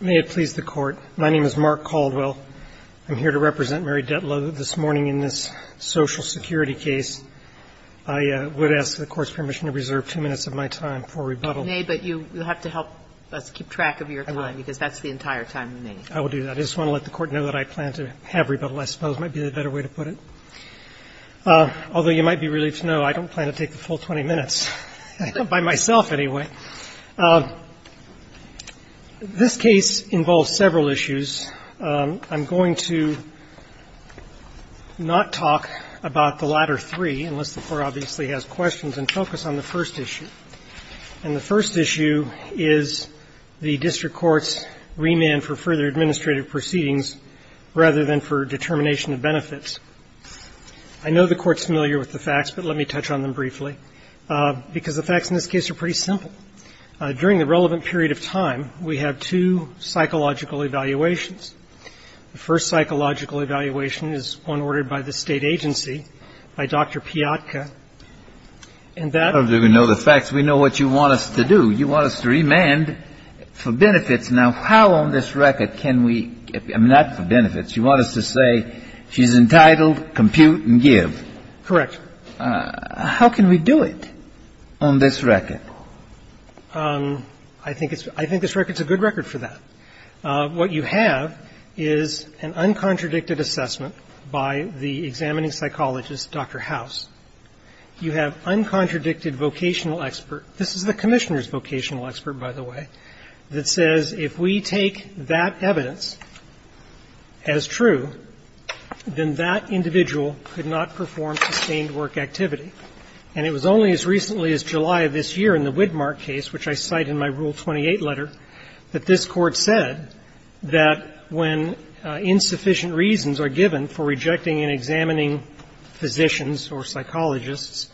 May it please the Court, my name is Mark Caldwell. I'm here to represent Mary Dettlo this morning in this Social Security case. I would ask the Court's permission to reserve two minutes of my time for rebuttal. May, but you have to help us keep track of your time, because that's the entire time you need. I will do that. I just want to let the Court know that I plan to have rebuttal, I suppose, might be the better way to put it. Although you might be relieved to know I don't plan to take the full 20 minutes, by myself anyway. This case involves several issues. I'm going to not talk about the latter three, unless the Court obviously has questions, and focus on the first issue. And the first issue is the district court's remand for further administrative proceedings, rather than for determination of benefits. I know the Court's familiar with the facts, but let me touch on them briefly, because the facts in this case are pretty simple. During the relevant period of time, we have two psychological evaluations. The first psychological evaluation is one ordered by the State agency, by Dr. Piatka. And that ---- Kennedy, I don't even know the facts. We know what you want us to do. You want us to remand for benefits. Now, how on this record can we ---- I mean, not for benefits. You want us to say she's entitled, compute and give. Correct. How can we do it on this record? I think it's ---- I think this record's a good record for that. What you have is an uncontradicted assessment by the examining psychologist, Dr. House. You have uncontradicted vocational expert. This is the Commissioner's vocational expert, by the way, that says if we take that evidence as true, then that individual could not perform sustained work activity. And it was only as recently as July of this year in the Widmark case, which I cite in my Rule 28 letter, that this Court said that when insufficient reasons are given for rejecting an examining physician's or psychologist's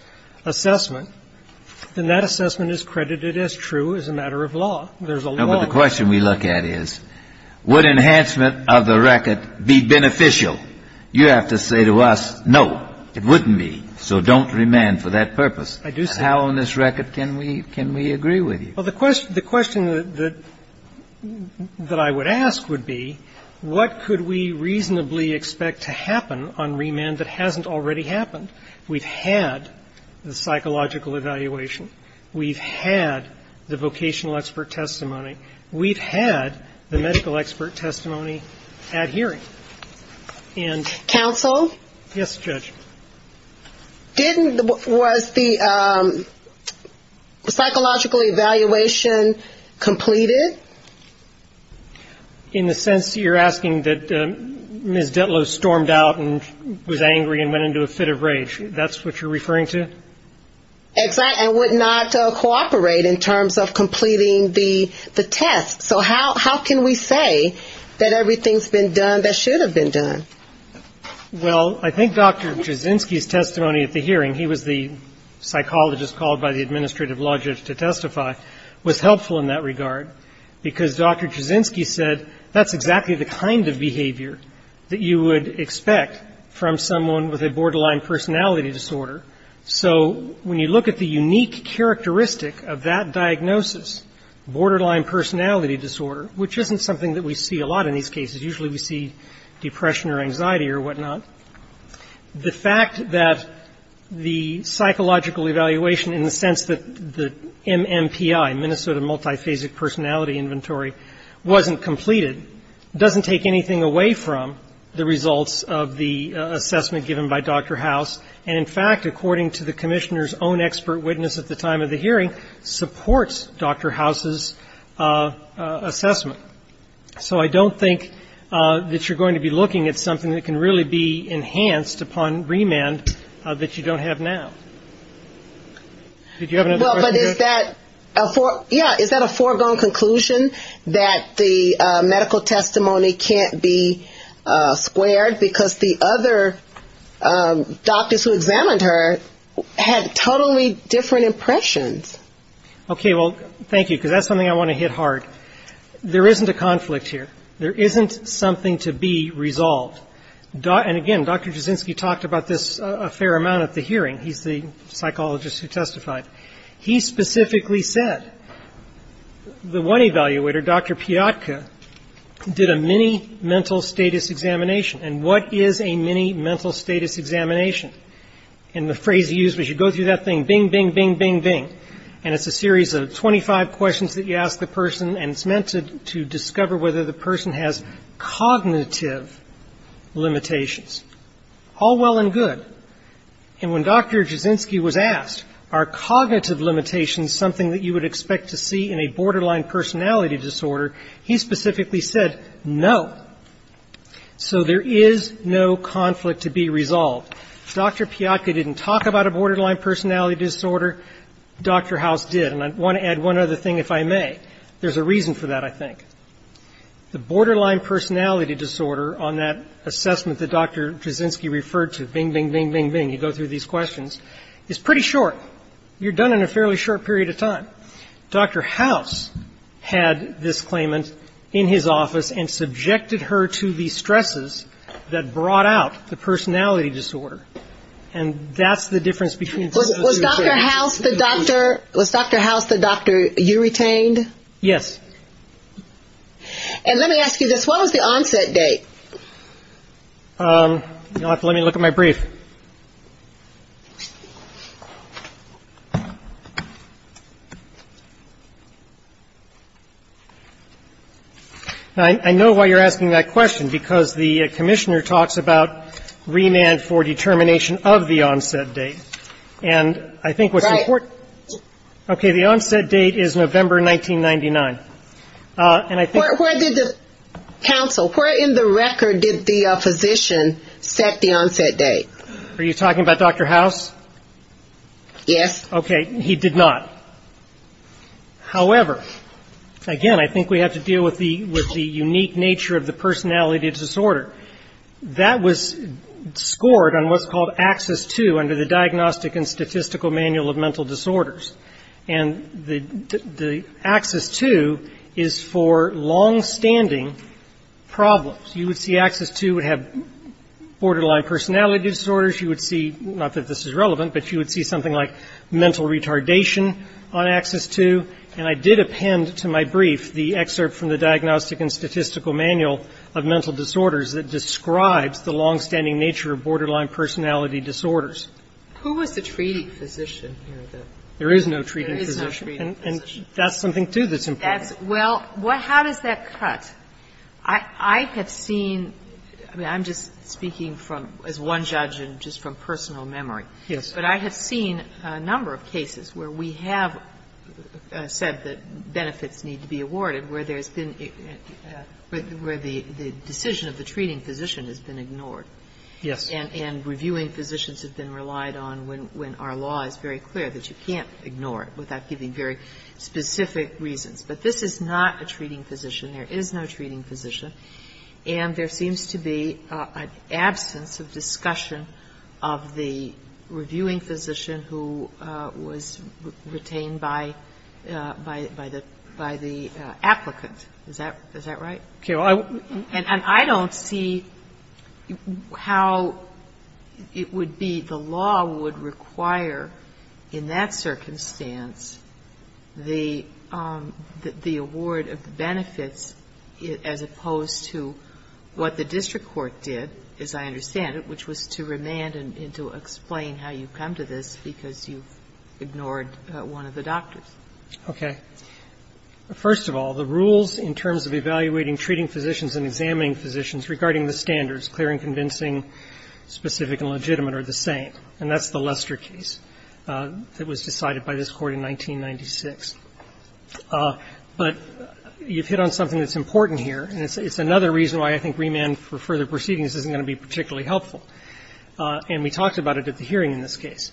assessment, then that assessment is credited as true as a matter of law. There's a law ---- No, but the question we look at is, would enhancement of the record be beneficial? You have to say to us, no, it wouldn't be. So don't remand for that purpose. I do say ---- How on this record can we ---- can we agree with you? Well, the question that I would ask would be, what could we reasonably expect to happen on remand that hasn't already happened? We've had the psychological evaluation. We've had the vocational expert testimony. We've had the medical expert testimony at hearing. And ---- Counsel? Yes, Judge. Didn't the ---- was the psychological evaluation completed? In the sense that you're asking that Ms. Ditlow stormed out and was angry and went into a fit of rage, that's what you're referring to? Exactly, and would not cooperate in terms of completing the test. So how can we say that everything's been done that should have been done? Well, I think Dr. Jasinski's testimony at the hearing, he was the psychologist called by the administrative logic to testify, was helpful in that regard, because Dr. Jasinski said that's exactly the kind of behavior that you would expect from someone with a borderline personality disorder. So when you look at the unique characteristic of that diagnosis, borderline personality disorder, which isn't something that we see a lot in these cases. Usually we see depression or anxiety or whatnot. The fact that the psychological evaluation in the sense that the MMPI, Minnesota Multiphasic Personality Inventory, wasn't completed doesn't take anything away from the results of the assessment given by Dr. House. And in fact, according to the Commissioner's own expert witness at the time of the hearing, supports Dr. House's assessment. So I don't think that you're going to be looking at something that can really be enhanced upon remand that you don't have now. Did you have another question? Well, but is that a foregone conclusion that the medical testimony can't be squared because the other doctors who examined her had totally different impressions? Okay, well, thank you, because that's something I want to hit hard. There isn't a conflict here. There isn't something to be resolved. And again, Dr. Jasinski talked about this a fair amount at the hearing. He's the psychologist who testified. He specifically said, the one evaluator, Dr. Piotka, did a mini mental status examination. And what is a mini mental status examination? And the phrase he used was, you go through that thing, bing, bing, bing, bing, bing. And it's a series of 25 questions that you ask the person. And it's meant to discover whether the person has cognitive limitations. All well and good. And when Dr. Jasinski was asked, are cognitive limitations something that you would expect to see in a borderline personality disorder, he specifically said, no. So there is no conflict to be resolved. Dr. Piotka didn't talk about a borderline personality disorder. Dr. House did. And I want to add one other thing, if I may. There's a reason for that, I think. The borderline personality disorder on that assessment that Dr. Jasinski referred to, bing, bing, bing, bing, bing, you go through these questions, is pretty short. You're done in a fairly short period of time. Dr. House had this claimant in his office and subjected her to the stresses that brought out the personality disorder. And that's the difference between those two things. Was Dr. House the doctor you retained? Yes. And let me ask you this. What was the onset date? You'll have to let me look at my brief. I know why you're asking that question, because the commissioner talks about remand for determination of the onset date. And I think what's important... Right. Okay. The onset date is November 1999. And I think... Where did the... Counsel, where in the record did the physician set the onset date? Are you talking about Dr. House? Yes. Okay. He did not. However, again, I think we have to deal with the unique nature of the personality disorder. That was scored on what's called AXIS-2 under the Diagnostic and Statistical Manual of Mental Disorders. And the AXIS-2 is for longstanding problems. You would see AXIS-2 would have borderline personality disorders. You would see, not that this is relevant, but you would see something like mental retardation on AXIS-2. And I did append to my brief the excerpt from the Diagnostic and Statistical Manual of Mental Disorders that describes the longstanding nature of borderline personality disorders. Who was the treating physician? There is no treating physician. There is no treating physician. And that's something, too, that's important. Well, how does that cut? I have seen, I mean, I'm just speaking as one judge and just from personal memory. Yes. But I have seen a number of cases where we have said that benefits need to be where the decision of the treating physician has been ignored. Yes. And reviewing physicians have been relied on when our law is very clear that you can't ignore it without giving very specific reasons. But this is not a treating physician. There is no treating physician. And there seems to be an absence of discussion of the reviewing physician who was retained by the applicant. Is that right? And I don't see how it would be the law would require, in that circumstance, the award of the benefits as opposed to what the district court did, as I understand it, which was to remand and to explain how you come to this because you've ignored one of the doctors. Okay. First of all, the rules in terms of evaluating treating physicians and examining physicians regarding the standards, clear and convincing, specific and legitimate, are the same. And that's the Lester case that was decided by this court in 1996. But you've hit on something that's important here. And it's another reason why I think remand for further proceedings isn't going to be particularly helpful. And we talked about it at the hearing in this case.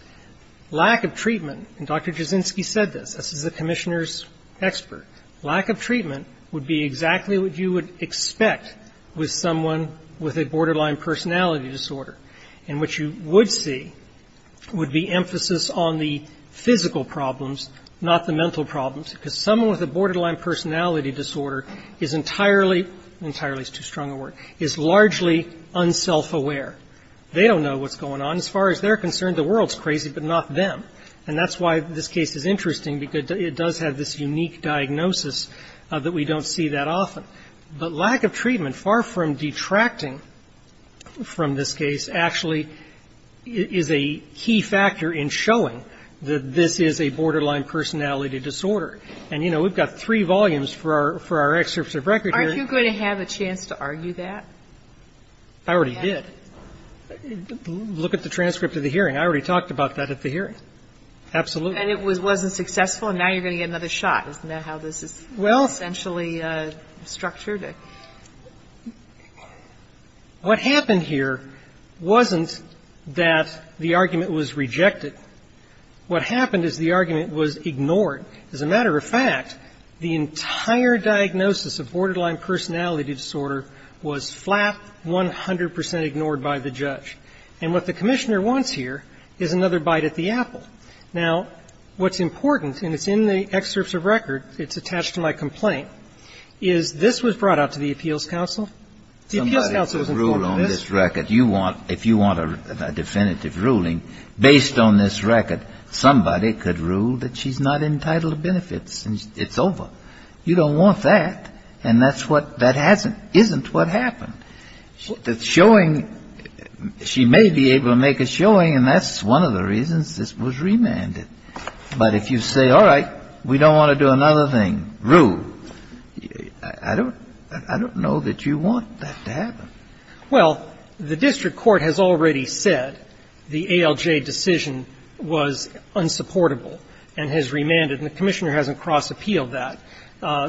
Lack of treatment, and Dr. Jasinsky said this, this is the commissioner's expert, lack of treatment would be exactly what you would expect with someone with a borderline personality disorder. And what you would see would be emphasis on the physical problems, not the mental problems, because someone with a borderline personality disorder is entirely entirely is too strong a word, is largely unselfaware. They don't know what's going on. As far as they're concerned, the world's crazy, but not them. And that's why this case is interesting, because it does have this unique diagnosis that we don't see that often. But lack of treatment, far from detracting from this case, actually is a key factor in showing that this is a borderline personality disorder. And, you know, we've got three volumes for our excerpts of record here. Aren't you going to have a chance to argue that? I already did. Look at the transcript of the hearing. I already talked about that at the hearing. Absolutely. And it wasn't successful, and now you're going to get another shot. Isn't that how this is essentially structured? What happened here wasn't that the argument was rejected. What happened is the argument was ignored. As a matter of fact, the entire diagnosis of borderline personality disorder was flat, 100 percent ignored by the judge. And what the commissioner wants here is another bite at the apple. Now, what's important, and it's in the excerpts of record, it's attached to my complaint, is this was brought out to the Appeals Council. The Appeals Council was informed of this. If you want a definitive ruling based on this record, somebody could rule that she's not entitled to benefits, and it's over. You don't want that. And that's what that hasn't isn't what happened. The showing, she may be able to make a showing, and that's one of the reasons this was remanded. But if you say, all right, we don't want to do another thing, rule, I don't know that you want that to happen. Well, the district court has already said the ALJ decision was unsupportable and has remanded, and the commissioner hasn't cross-appealed that.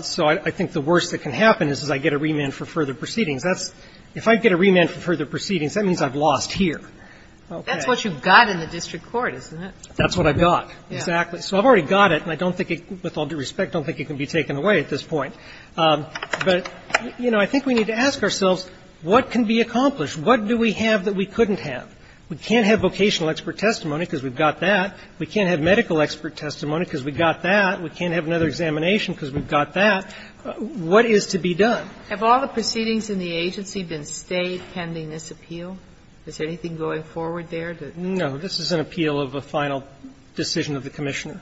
So I think the worst that can happen is, is I get a remand for further proceedings. That's – if I get a remand for further proceedings, that means I've lost here. Okay. Kagan. That's what you've got in the district court, isn't it? That's what I've got, exactly. So I've already got it, and I don't think it, with all due respect, don't think it can be taken away at this point. But, you know, I think we need to ask ourselves, what can be accomplished? What do we have that we couldn't have? We can't have vocational expert testimony because we've got that. We can't have medical expert testimony because we've got that. We can't have another examination because we've got that. What is to be done? Have all the proceedings in the agency been stayed pending this appeal? Is anything going forward there? No. This is an appeal of a final decision of the commissioner.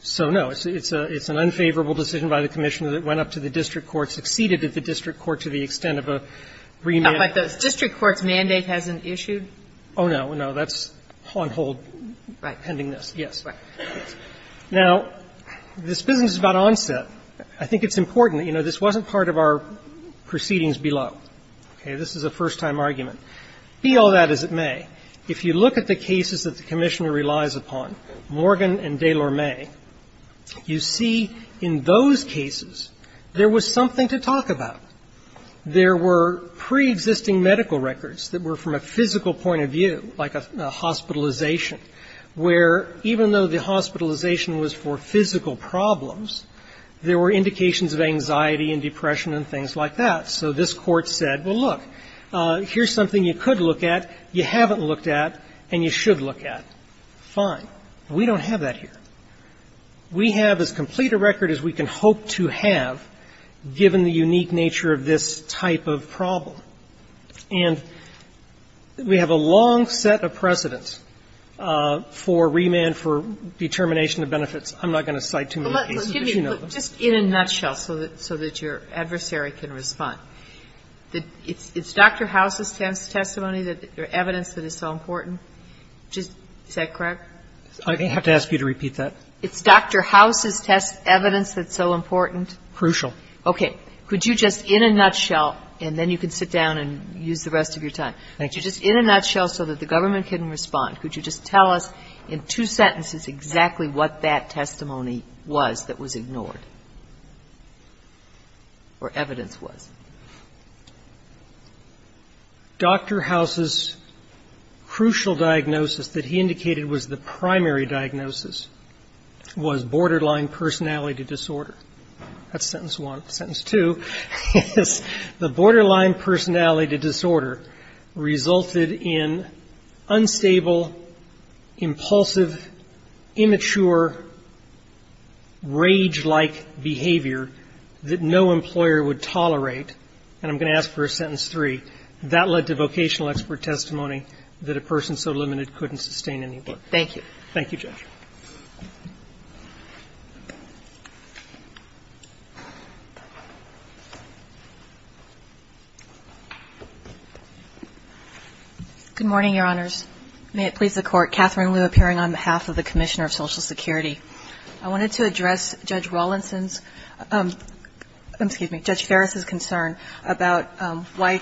So, no, it's an unfavorable decision by the commissioner that went up to the district court, succeeded at the district court to the extent of a remand. But the district court's mandate hasn't issued? Oh, no. No. That's on hold pending this. Right. Yes. Right. Now, this business about onset, I think it's important. You know, this wasn't part of our proceedings below. Okay? This is a first-time argument. Be all that as it may, if you look at the cases that the commissioner relies upon, Morgan and DeLorme, you see in those cases there was something to talk about. There were preexisting medical records that were from a physical point of view, like a hospitalization, where even though the hospitalization was for physical problems, there were indications of anxiety and depression and things like that. So this Court said, well, look, here's something you could look at, you haven't looked at, and you should look at. Fine. We don't have that here. We have as complete a record as we can hope to have, given the unique nature of this type of problem. And we have a long set of precedents for remand, for determination of benefits. I'm not going to cite too many cases, but you know them. But just in a nutshell, so that your adversary can respond, it's Dr. House's testimony or evidence that is so important? Is that correct? I have to ask you to repeat that. It's Dr. House's evidence that's so important? Crucial. Okay. Could you just in a nutshell, and then you can sit down and use the rest of your time. Thank you. Just in a nutshell, so that the government can respond, could you just tell us in two sentences exactly what that testimony was that was ignored? Or evidence was? Dr. House's crucial diagnosis that he indicated was the primary diagnosis was borderline personality disorder. That's sentence one. Sentence two is the borderline personality disorder resulted in unstable, impulsive, immature, rage-like behavior that no employer would tolerate. And I'm going to ask for a sentence three. That led to vocational expert testimony that a person so limited couldn't sustain any more. Thank you. Thank you, Judge. Good morning, Your Honors. May it please the Court. Catherine Liu appearing on behalf of the Commissioner of Social Security. I wanted to address Judge Ferris's concern about why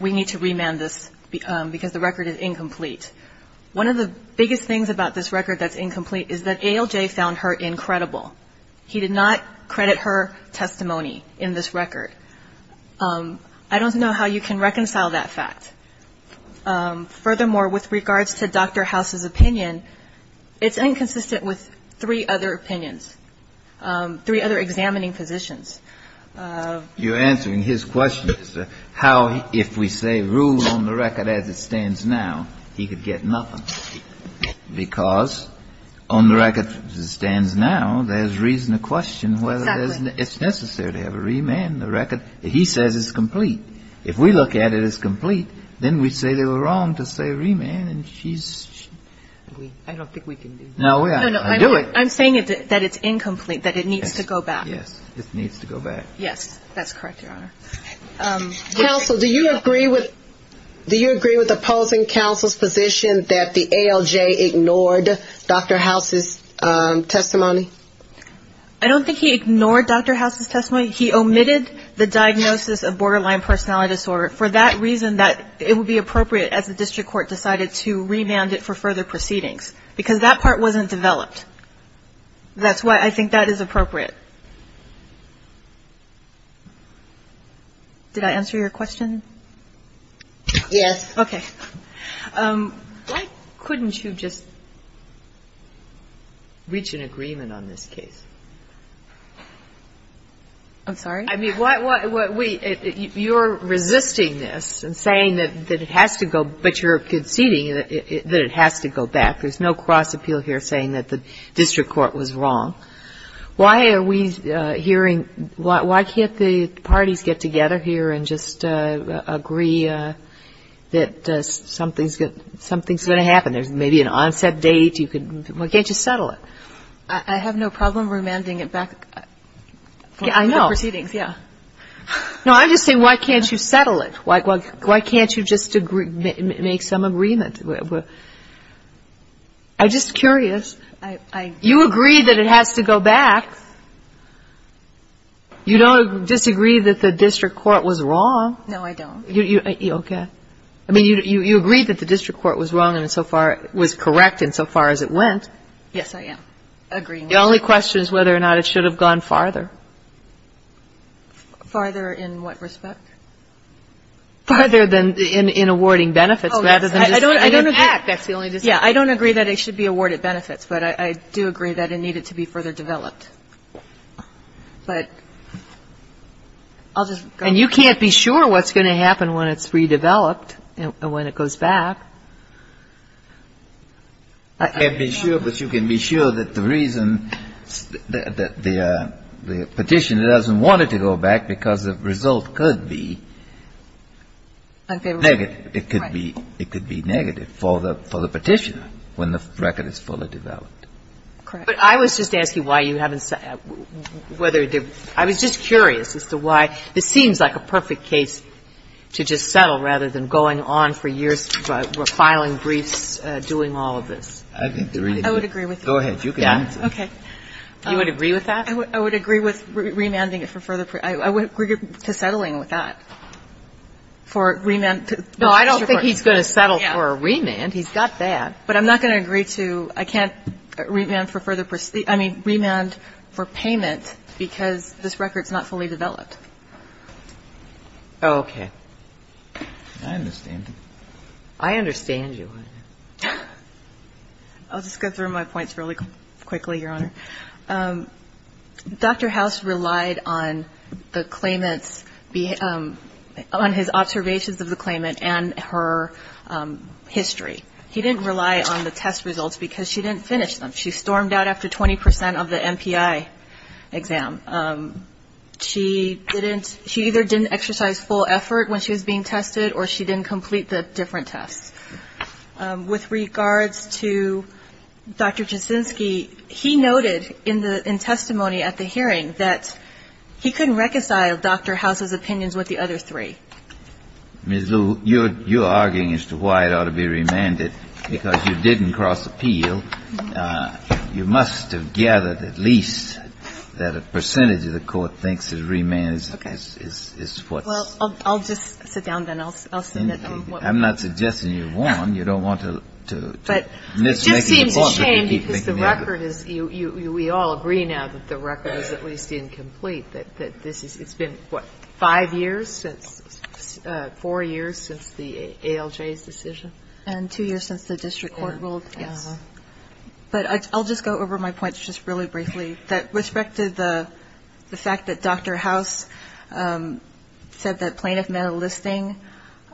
we need to remand this because the record is incomplete. One of the biggest things about this record that's incomplete is that ALJ found her incredible. He did not credit her testimony in this record. I don't know how you can reconcile that fact. Furthermore, with regards to Dr. House's opinion, it's inconsistent with three other opinions, three other examining positions. You're answering his question. How, if we say rule on the record as it stands now, he could get nothing. Because on the record as it stands now, there's reason to question whether it's necessary to have a remand in the record. He says it's complete. If we look at it as complete, then we'd say they were wrong to say remand and she's I don't think we can do that. No, I'm saying that it's incomplete, that it needs to go back. Yes, it needs to go back. Yes, that's correct, Your Honor. Counsel, do you agree with opposing counsel's position that the ALJ ignored Dr. House's testimony? I don't think he ignored Dr. House's testimony. He omitted the diagnosis of borderline personality disorder for that reason that it would be appropriate as the district court decided to remand it for further proceedings because that part wasn't developed. That's why I think that is appropriate. Did I answer your question? Yes. Okay. Why couldn't you just reach an agreement on this case? I'm sorry? I mean, you're resisting this and saying that it has to go, but you're conceding that it has to go back. There's no cross-appeal here saying that the district court was wrong. Why are we hearing why can't the parties get together here and just agree that something's going to happen? There's maybe an onset date. Why can't you settle it? I have no problem remanding it back for further proceedings, yes. No, I'm just saying why can't you settle it? Why can't you just make some agreement? I'm just curious. You agree that it has to go back. You don't disagree that the district court was wrong. No, I don't. Okay. I mean, you agree that the district court was wrong and so far was correct insofar as it went. Yes, I am. The only question is whether or not it should have gone farther. Farther than in awarding benefits rather than just the district court. I don't agree that it should be awarded benefits, but I do agree that it needed to be further developed. And you can't be sure what's going to happen when it's redeveloped, when it goes back. I can't be sure, but you can be sure that the reason that the petitioner doesn't want it to go back because the result could be negative. It could be negative for the petitioner when the record is fully developed. Correct. But I was just asking why you haven't said whether it did. I was just curious as to why this seems like a perfect case to just settle rather than going on for years, filing briefs, doing all of this. I think the reason. I would agree with you. Go ahead. You can answer. Okay. You would agree with that? I would agree with remanding it for further. I would agree to settling with that. For remand. No, I don't think he's going to settle for a remand. He's got that. But I'm not going to agree to, I can't remand for further, I mean, remand for payment because this record's not fully developed. Okay. I understand. I understand you. I'll just go through my points really quickly, Your Honor. Dr. House relied on the claimant's, on his observations of the claimant and her history. He didn't rely on the test results because she didn't finish them. She stormed out after 20% of the MPI exam. She didn't, she either didn't exercise full effort when she was being tested or she didn't complete the different tests. With regards to Dr. Jasinski, he noted in the, in testimony at the hearing that he couldn't reconcile Dr. House's opinions with the other three. Ms. Lue, you're, you're arguing as to why it ought to be remanded because you didn't cross appeal. You must have gathered at least that a percentage of the court thinks that remand is, is, is what's. Well, I'll, I'll just sit down then. I'll, I'll submit them. I'm not suggesting you won. You don't want to, to. But it just seems a shame because the record is, you, you, we all agree now that the record is at least incomplete. That, that this is, it's been what, five years since, four years since the ALJ's decision. And two years since the district court ruled. Yes. But I'll just go over my points just really briefly. That with respect to the, the fact that Dr. House said that plaintiff met a listing.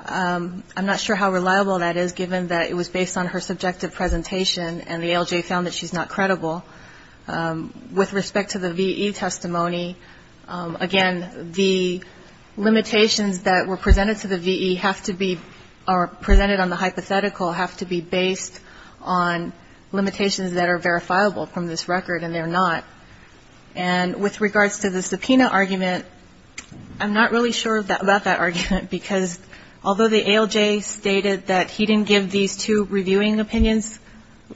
I'm not sure how reliable that is given that it was based on her subjective presentation and the ALJ found that she's not credible. With respect to the VE testimony, again, the limitations that were presented to the VE have to be, are presented on the hypothetical have to be based on limitations that are verifiable from this record and they're not. And with regards to the subpoena argument, I'm not really sure that, about that argument. Because although the ALJ stated that he didn't give these two reviewing opinions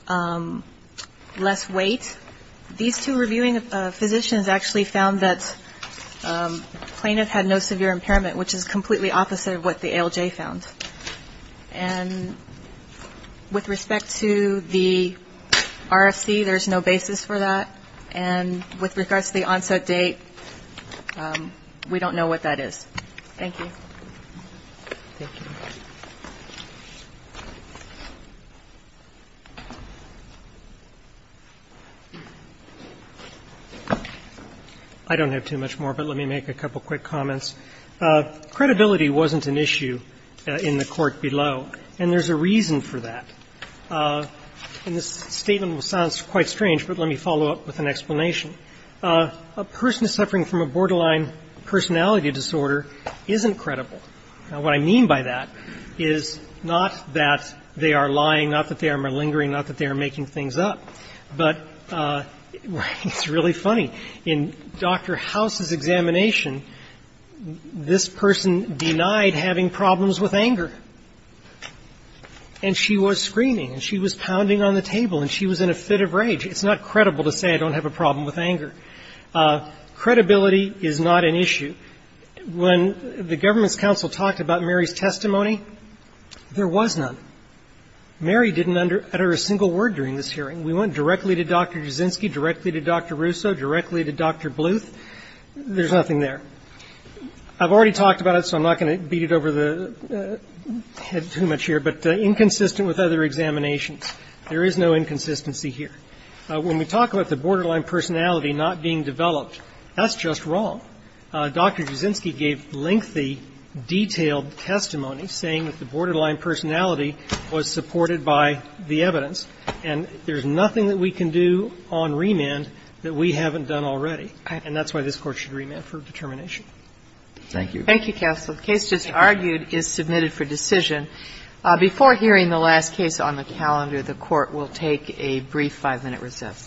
less weight. These two reviewing physicians actually found that plaintiff had no severe impairment. Which is completely opposite of what the ALJ found. And with respect to the RFC, there's no basis for that. And with regards to the onset date, we don't know what that is. Thank you. I don't have too much more, but let me make a couple quick comments. Credibility wasn't an issue in the court below. And there's a reason for that. And this statement sounds quite strange, but let me follow up with an explanation. A person suffering from a borderline personality disorder isn't credible. Now, what I mean by that is not that they are lying, not that they are malingering, not that they are making things up. But it's really funny. In Dr. House's examination, this person denied having problems with anger. And she was screaming and she was pounding on the table and she was in a fit of rage. It's not credible to say I don't have a problem with anger. Credibility is not an issue. When the government's counsel talked about Mary's testimony, there was none. Mary didn't utter a single word during this hearing. We went directly to Dr. Jasinski, directly to Dr. Russo, directly to Dr. Bluth. There's nothing there. I've already talked about it, so I'm not going to beat it over the head too much here. But inconsistent with other examinations, there is no inconsistency here. When we talk about the borderline personality not being developed, that's just wrong. Dr. Jasinski gave lengthy, detailed testimony saying that the borderline personality was supported by the evidence. And there's nothing that we can do on remand that we haven't done already. And that's why this Court should remand for determination. Thank you. Thank you, counsel. The case just argued is submitted for decision. Before hearing the last case on the calendar, the Court will take a brief five-minute recess.